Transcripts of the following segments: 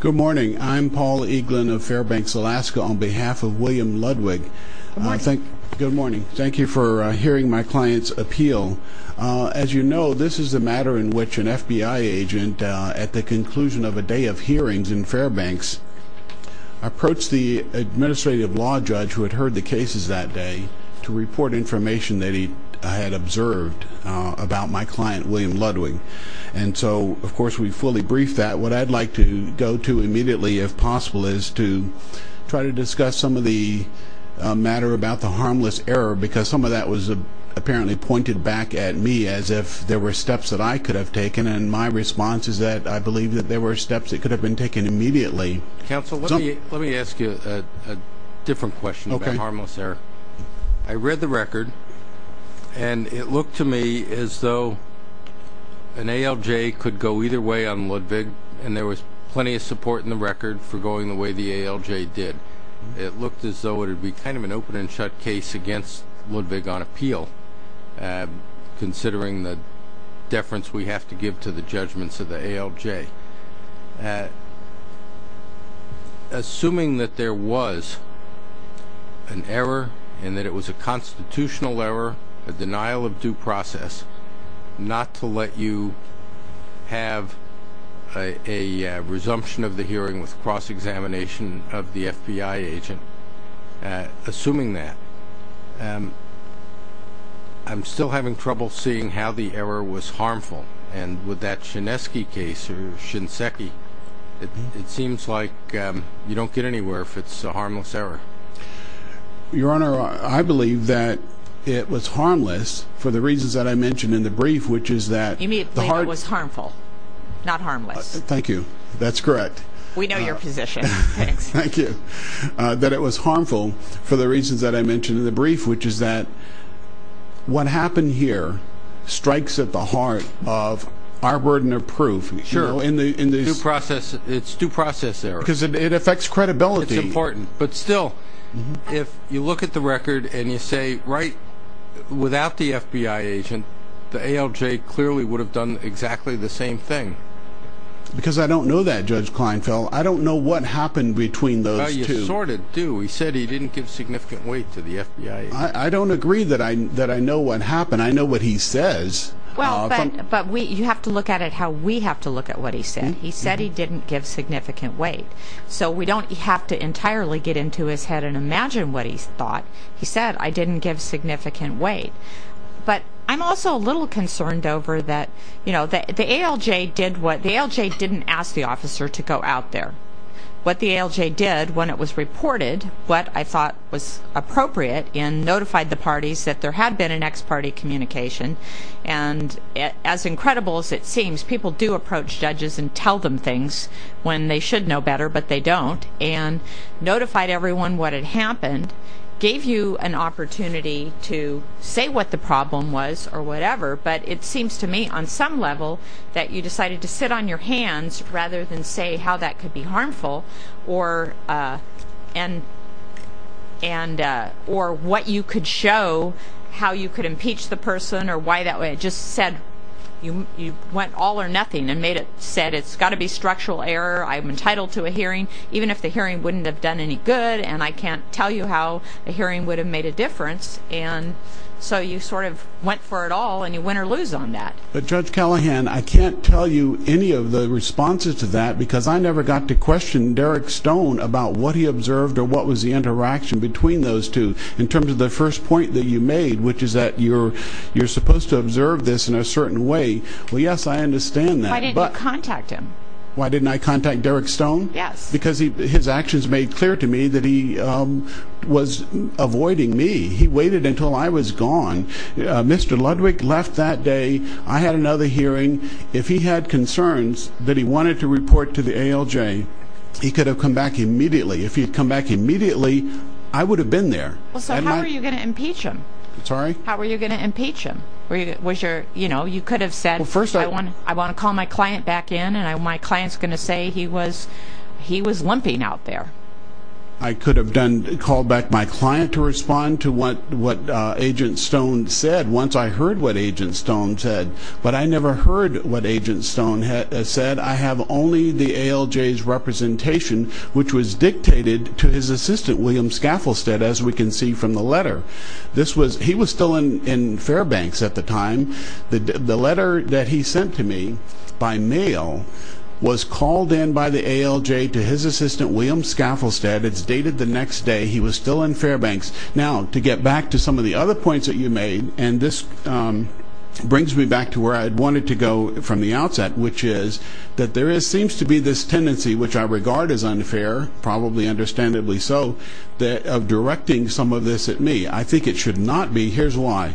Good morning. I'm Paul Eaglin of Fairbanks, Alaska on behalf of William Ludwig. Good morning. Thank you for hearing my client's appeal. As you know, this is the matter in which an FBI agent, at the conclusion of a day of hearings in Fairbanks, approached the administrative law judge who had heard the cases that day to report information that he had observed about my client, William Ludwig. And so, of course, we fully briefed that. What I'd like to go to immediately, if possible, is to try to discuss some of the matter about the harmless error because some of that was apparently pointed back at me as if there were steps that I could have taken, and my response is that I believe that there were steps that could have been taken immediately. Counsel, let me ask you a different question about harmless error. I read the record, and it looked to me as though an ALJ could go either way on Ludwig, and there was plenty of support in the record for going the way the ALJ did. It looked as though it would be kind of an open-and-shut case against Ludwig on appeal, considering the deference we have to give to the judgments of the ALJ. Assuming that there was an error and that it was a constitutional error, a denial of due process, not to let you have a resumption of the hearing with cross-examination of the FBI agent, assuming that, I'm still having trouble seeing how the error was harmful, and with that Shineski case or Shinseki, it seems like you don't get anywhere if it's a harmless error. Your Honor, I believe that it was harmless for the reasons that I mentioned in the brief, which is that... Immediately, it was harmful, not harmless. Thank you. That's correct. We know your position. Thanks. Thank you. ...which is that what happened here strikes at the heart of our burden of proof. Sure. It's due process error. Because it affects credibility. It's important. But still, if you look at the record and you say, without the FBI agent, the ALJ clearly would have done exactly the same thing. Because I don't know that, Judge Kleinfeld. I don't know what happened between those two. Well, you sort of do. He said he didn't give significant weight to the FBI agent. I don't agree that I know what happened. I know what he says. But you have to look at it how we have to look at what he said. He said he didn't give significant weight. So we don't have to entirely get into his head and imagine what he thought. He said, I didn't give significant weight. But I'm also a little concerned over that the ALJ didn't ask the officer to go out there. What the ALJ did when it was reported what I thought was appropriate in notified the parties that there had been an ex-party communication. And as incredible as it seems, people do approach judges and tell them things when they should know better, but they don't. And notified everyone what had happened. Gave you an opportunity to say what the problem was or whatever. But it seems to me on some level that you decided to sit on your hands rather than say how that could be harmful or what you could show, how you could impeach the person or why that way. It just said you went all or nothing and made it said it's got to be structural error. I'm entitled to a hearing even if the hearing wouldn't have done any good. And I can't tell you how a hearing would have made a difference. And so you sort of went for it all and you win or lose on that. But Judge Callahan, I can't tell you any of the responses to that because I never got to question Derek Stone about what he observed or what was the interaction between those two in terms of the first point that you made, which is that you're supposed to observe this in a certain way. Well, yes, I understand that. Why didn't you contact him? Why didn't I contact Derek Stone? Yes. Because his actions made clear to me that he was avoiding me. He waited until I was gone. Mr. Ludwig left that day. I had another hearing. If he had concerns that he wanted to report to the ALJ, he could have come back immediately. If he had come back immediately, I would have been there. So how were you going to impeach him? Sorry? How were you going to impeach him? You could have said I want to call my client back in and my client is going to say he was limping out there. I could have called back my client to respond to what Agent Stone said once I heard what Agent Stone said. But I never heard what Agent Stone said. I have only the ALJ's representation, which was dictated to his assistant, William Scafflestad, as we can see from the letter. He was still in Fairbanks at the time. The letter that he sent to me by mail was called in by the ALJ to his assistant, William Scafflestad. It's dated the next day. He was still in Fairbanks. Now, to get back to some of the other points that you made, and this brings me back to where I wanted to go from the outset, which is that there seems to be this tendency, which I regard as unfair, probably understandably so, of directing some of this at me. I think it should not be. Here's why.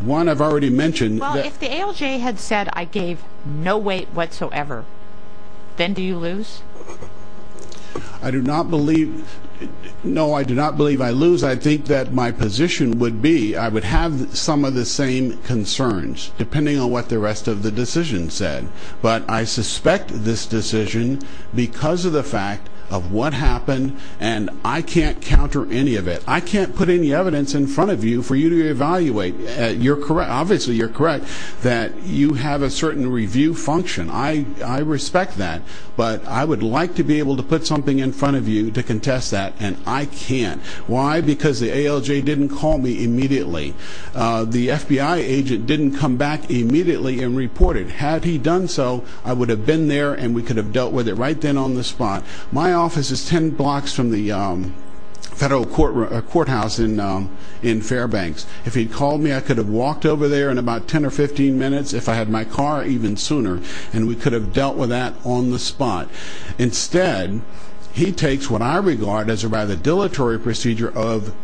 One, I've already mentioned. Well, if the ALJ had said I gave no weight whatsoever, then do you lose? I do not believe... No, I do not believe I lose. I think that my position would be I would have some of the same concerns, depending on what the rest of the decision said. But I suspect this decision because of the fact of what happened, and I can't counter any of it. I can't put any evidence in front of you for you to evaluate. Obviously, you're correct that you have a certain review function. I respect that, but I would like to be able to put something in front of you to contest that, and I can't. Why? Because the ALJ didn't call me immediately. The FBI agent didn't come back immediately and report it. Had he done so, I would have been there, and we could have dealt with it right then on the spot. My office is 10 blocks from the federal courthouse in Fairbanks. If he had called me, I could have walked over there in about 10 or 15 minutes, if I had my car, even sooner, and we could have dealt with that on the spot. Instead, he takes what I regard as a rather dilatory procedure of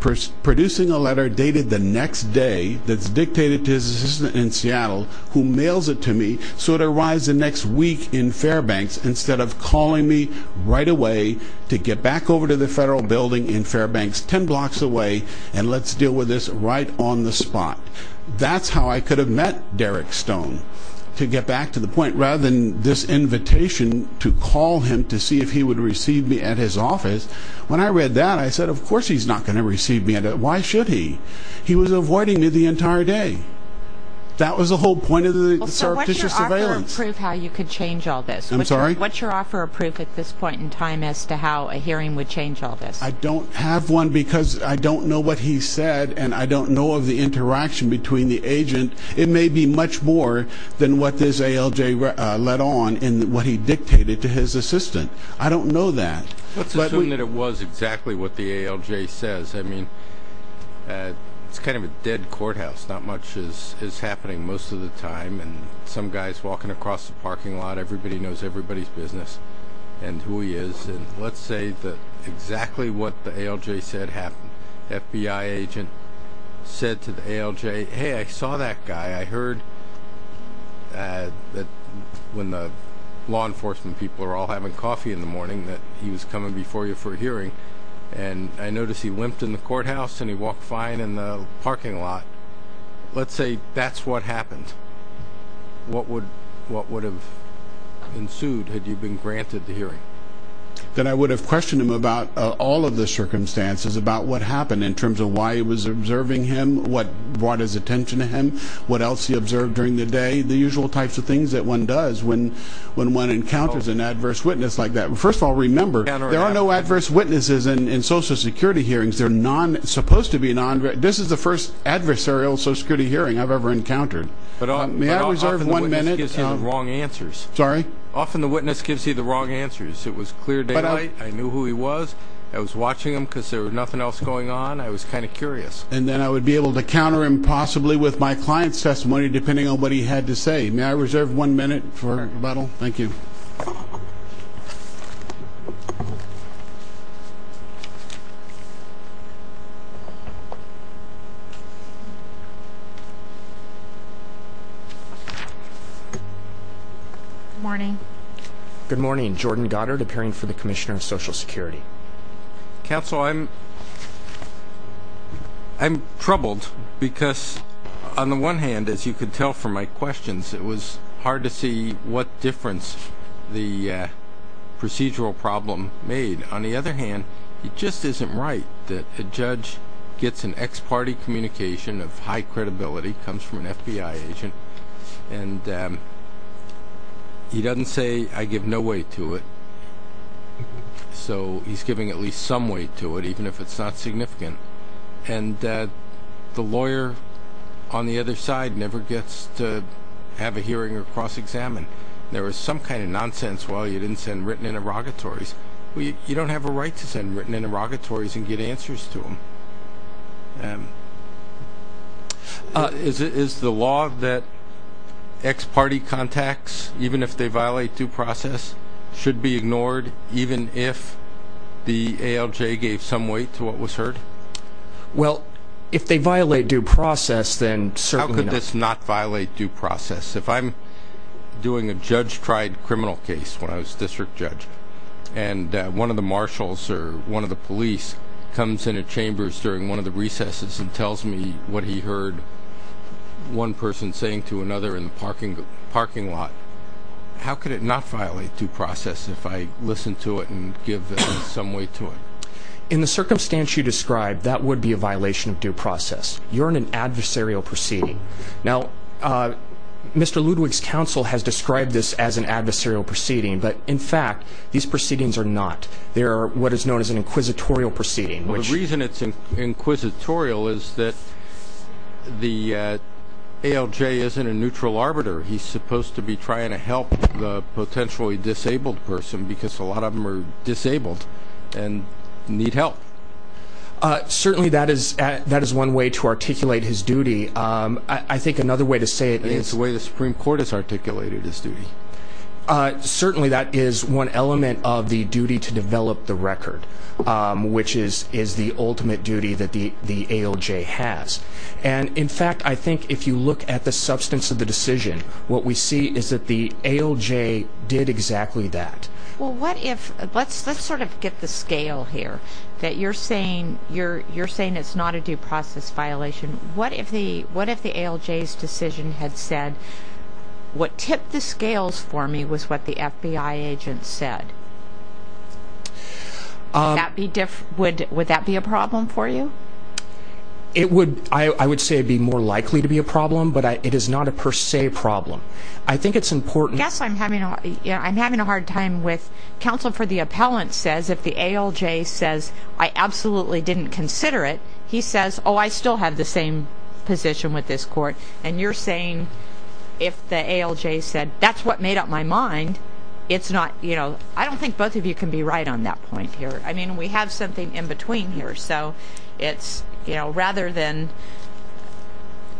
producing a letter dated the next day that's dictated to his assistant in Seattle, who mails it to me so it arrives the next week in Fairbanks, instead of calling me right away to get back over to the federal building in Fairbanks, 10 blocks away, and let's deal with this right on the spot. That's how I could have met Derek Stone, to get back to the point. Rather than this invitation to call him to see if he would receive me at his office, when I read that, I said, of course he's not going to receive me. Why should he? He was avoiding me the entire day. That was the whole point of the surreptitious surveillance. So what's your offer of proof how you could change all this? I'm sorry? What's your offer of proof at this point in time as to how a hearing would change all this? I don't have one because I don't know what he said, and I don't know of the interaction between the agent. It may be much more than what this ALJ led on in what he dictated to his assistant. I don't know that. Let's assume that it was exactly what the ALJ says. I mean, it's kind of a dead courthouse. Not much is happening most of the time, and some guy's walking across the parking lot. Everybody knows everybody's business and who he is. Let's say that exactly what the ALJ said happened. The FBI agent said to the ALJ, hey, I saw that guy. I heard that when the law enforcement people are all having coffee in the morning that he was coming before you for a hearing, and I noticed he wimped in the courthouse and he walked fine in the parking lot. Let's say that's what happened. What would have ensued had you been granted the hearing? That I would have questioned him about all of the circumstances, about what happened in terms of why he was observing him, what brought his attention to him, what else he observed during the day, the usual types of things that one does when one encounters an adverse witness like that. First of all, remember, there are no adverse witnesses in Social Security hearings. This is the first adversarial Social Security hearing I've ever encountered. May I reserve one minute? Often the witness gives you the wrong answers. It was clear daylight, I knew who he was, I was watching him because there was nothing else going on, I was kind of curious. And then I would be able to counter him possibly with my client's testimony depending on what he had to say. May I reserve one minute for rebuttal? Thank you. Thank you. Good morning. Good morning. Jordan Goddard, appearing for the Commissioner of Social Security. Counsel, I'm troubled because on the one hand, as you could tell from my questions, it was hard to see what difference the procedural problem made. On the other hand, it just isn't right that a judge gets an ex parte communication of high credibility, comes from an FBI agent, and he doesn't say, I give no weight to it. So he's giving at least some weight to it, even if it's not significant. And the lawyer on the other side never gets to have a hearing or cross-examine. There was some kind of nonsense, well, you didn't send written interrogatories. You don't have a right to send written interrogatories and get answers to them. Is the law that ex parte contacts, even if they violate due process, should be ignored even if the ALJ gave some weight to what was heard? Well, if they violate due process, then certainly not. How could this not violate due process? If I'm doing a judge-tried criminal case when I was district judge, and one of the marshals or one of the police comes into chambers during one of the recesses and tells me what he heard one person saying to another in the parking lot, how could it not violate due process if I listen to it and give some weight to it? In the circumstance you described, that would be a violation of due process. You're in an adversarial proceeding. Now, Mr. Ludwig's counsel has described this as an adversarial proceeding, but in fact these proceedings are not. They are what is known as an inquisitorial proceeding. Well, the reason it's inquisitorial is that the ALJ isn't a neutral arbiter. He's supposed to be trying to help the potentially disabled person because a lot of them are disabled and need help. Certainly that is one way to articulate his duty. I think another way to say it is the way the Supreme Court has articulated his duty. Certainly that is one element of the duty to develop the record, which is the ultimate duty that the ALJ has. In fact, I think if you look at the substance of the decision, what we see is that the ALJ did exactly that. Let's sort of get the scale here. You're saying it's not a due process violation. What if the ALJ's decision had said, what tipped the scales for me was what the FBI agent said? Would that be a problem for you? I would say it would be more likely to be a problem, but it is not a per se problem. I think it's important. I'm having a hard time with counsel for the appellant says, if the ALJ says, I absolutely didn't consider it, he says, oh, I still have the same position with this court, and you're saying if the ALJ said, that's what made up my mind, it's not, you know, I don't think both of you can be right on that point here. I mean, we have something in between here. So it's, you know, rather than,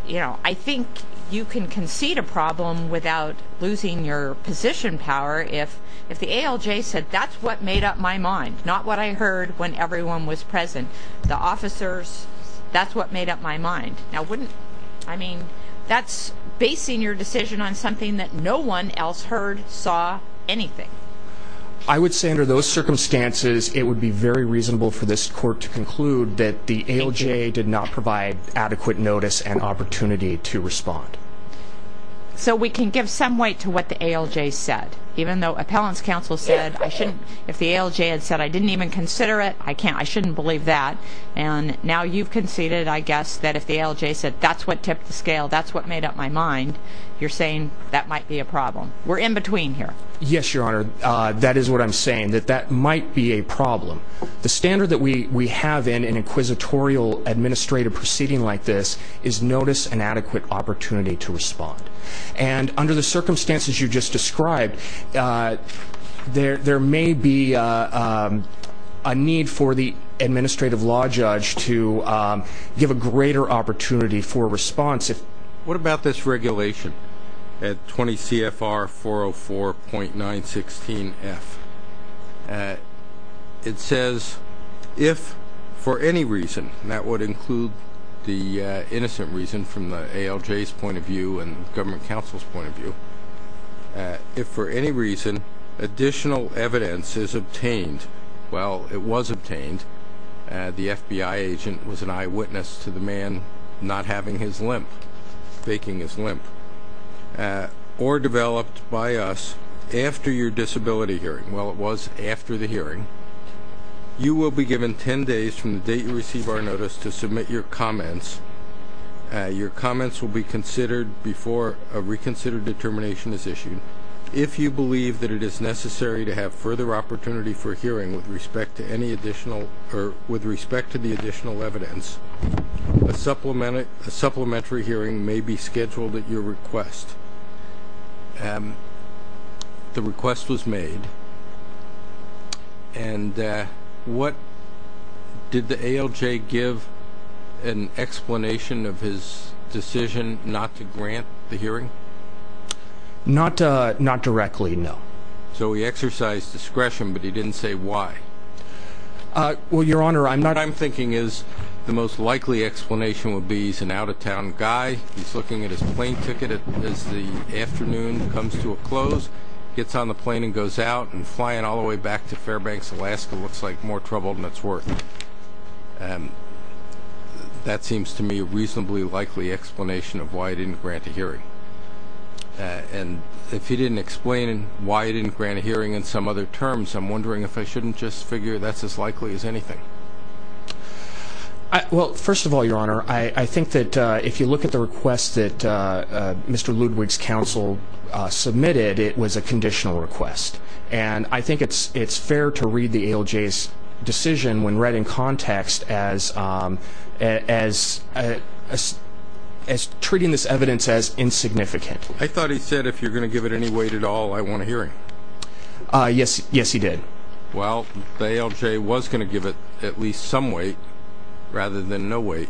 you know, I think you can concede a problem without losing your position power if the ALJ said, that's what made up my mind, not what I heard when everyone was present. The officers, that's what made up my mind. Now, wouldn't, I mean, that's basing your decision on something that no one else heard, saw, anything. I would say under those circumstances, it would be very reasonable for this court to conclude that the ALJ did not provide adequate notice and opportunity to respond. So we can give some weight to what the ALJ said, even though appellant's counsel said, I shouldn't, if the ALJ had said, I didn't even consider it, I can't, I shouldn't believe that. And now you've conceded, I guess, that if the ALJ said, that's what tipped the scale, that's what made up my mind, you're saying that might be a problem. We're in between here. Yes, Your Honor, that is what I'm saying, that that might be a problem. The standard that we have in an inquisitorial administrative proceeding like this is notice and adequate opportunity to respond. And under the circumstances you just described, there may be a need for the administrative law judge to give a greater opportunity for response. What about this regulation at 20 CFR 404.916F? It says, if for any reason, and that would include the innocent reason from the ALJ's point of view and government counsel's point of view, if for any reason additional evidence is obtained, well, it was obtained, the FBI agent was an eyewitness to the man not having his limp, faking his limp, or developed by us after your disability hearing, well, it was after the hearing, you will be given ten days from the date you receive our notice to submit your comments. Your comments will be considered before a reconsidered determination is issued. If you believe that it is necessary to have further opportunity for hearing with respect to any additional or with respect to the additional evidence, a supplementary hearing may be scheduled at your request. The request was made. And did the ALJ give an explanation of his decision not to grant the hearing? Not directly, no. So he exercised discretion, but he didn't say why. Well, Your Honor, I'm not What I'm thinking is the most likely explanation would be he's an out-of-town guy, he's looking at his plane ticket as the afternoon comes to a close, gets on the plane and goes out, and flying all the way back to Fairbanks, Alaska, looks like more trouble than it's worth. That seems to me a reasonably likely explanation of why he didn't grant a hearing. And if he didn't explain why he didn't grant a hearing in some other terms, I'm wondering if I shouldn't just figure that's as likely as anything. Well, first of all, Your Honor, I think that if you look at the request that Mr. Ludwig's counsel submitted, it was a conditional request. And I think it's fair to read the ALJ's decision when read in context as treating this evidence as insignificant. I thought he said if you're going to give it any weight at all, I want a hearing. Yes, he did. Well, the ALJ was going to give it at least some weight rather than no weight,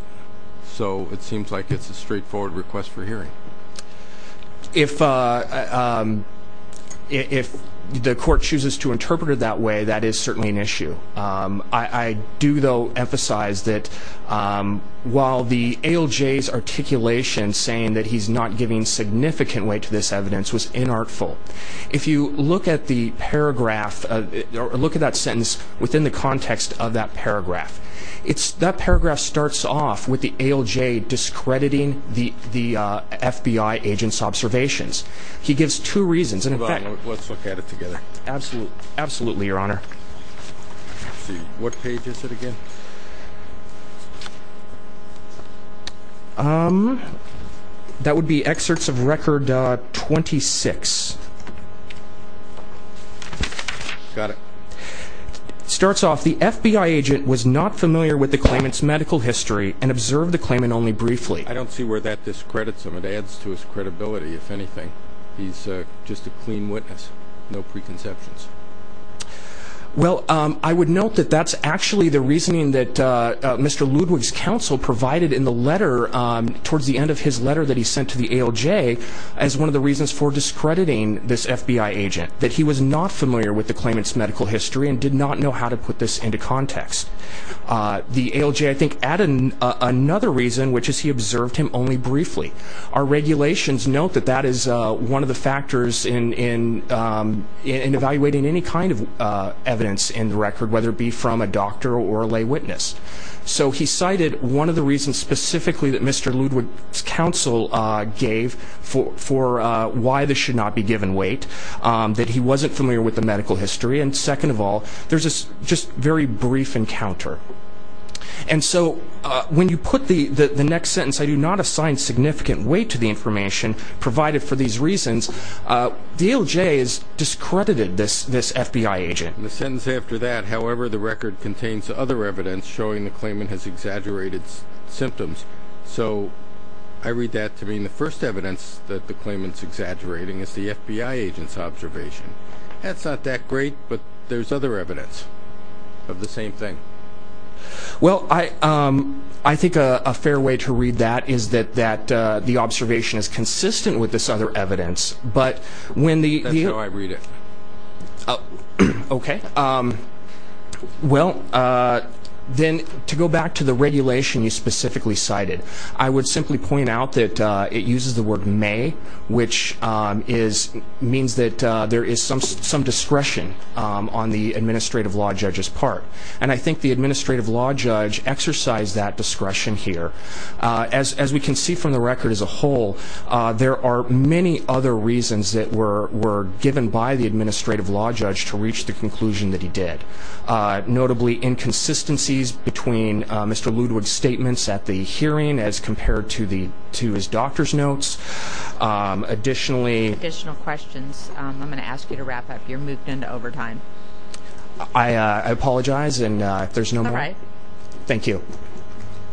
If the court chooses to interpret it that way, that is certainly an issue. I do, though, emphasize that while the ALJ's articulation saying that he's not giving significant weight to this evidence was inartful, if you look at the paragraph or look at that sentence within the context of that paragraph, that paragraph starts off with the ALJ discrediting the FBI agent's observations. He gives two reasons. Let's look at it together. Absolutely, Your Honor. What page is it again? That would be excerpts of Record 26. Got it. It starts off, The FBI agent was not familiar with the claimant's medical history and observed the claimant only briefly. I don't see where that discredits him. It adds to his credibility, if anything. He's just a clean witness, no preconceptions. Well, I would note that that's actually the reasoning that Mr. Ludwig's counsel provided in the letter, towards the end of his letter that he sent to the ALJ, as one of the reasons for discrediting this FBI agent, that he was not familiar with the claimant's medical history and did not know how to put this into context. The ALJ, I think, added another reason, which is he observed him only briefly. Our regulations note that that is one of the factors in evaluating any kind of evidence in the record, whether it be from a doctor or a lay witness. So he cited one of the reasons specifically that Mr. Ludwig's counsel gave for why this should not be given weight. That he wasn't familiar with the medical history. And second of all, there's this just very brief encounter. And so when you put the next sentence, I do not assign significant weight to the information provided for these reasons. The ALJ has discredited this FBI agent. The sentence after that, however, the record contains other evidence showing the claimant has exaggerated symptoms. So I read that to mean the first evidence that the claimant's exaggerating is the FBI agent's observation. That's not that great, but there's other evidence of the same thing. Well, I think a fair way to read that is that the observation is consistent with this other evidence. That's how I read it. Okay. Well, then to go back to the regulation you specifically cited, I would simply point out that it uses the word may, which means that there is some discretion on the administrative law judge's part. And I think the administrative law judge exercised that discretion here. As we can see from the record as a whole, there are many other reasons that were given by the administrative law judge to reach the conclusion that he did, notably inconsistencies between Mr. Ludwig's statements at the hearing as compared to his doctor's notes. Additional questions? I'm going to ask you to wrap up. You're moved into overtime. I apologize if there's no more. All right. Thank you.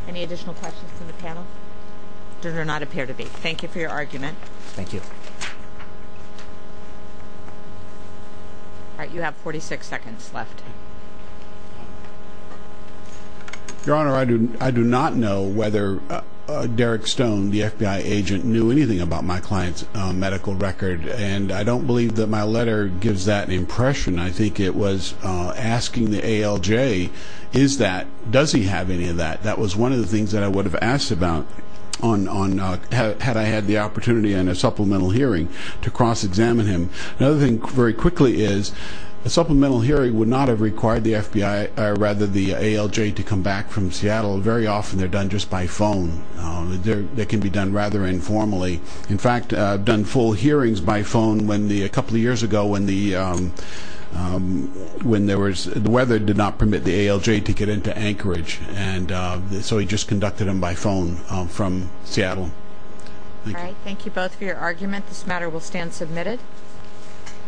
Any additional questions from the panel? There do not appear to be. Thank you for your argument. Thank you. All right. You have 46 seconds left. Your Honor, I do not know whether Derek Stone, the FBI agent, knew anything about my client's medical record, and I don't believe that my letter gives that impression. I think it was asking the ALJ, is that, does he have any of that? That was one of the things that I would have asked about had I had the opportunity in a supplemental hearing to cross-examine him. Another thing, very quickly, is a supplemental hearing would not have required the FBI, or rather the ALJ, to come back from Seattle. Very often they're done just by phone. They can be done rather informally. In fact, I've done full hearings by phone a couple of years ago when the weather did not permit the ALJ to get into Anchorage and so he just conducted them by phone from Seattle. Thank you. All right. Thank you both for your argument. This matter will stand submitted.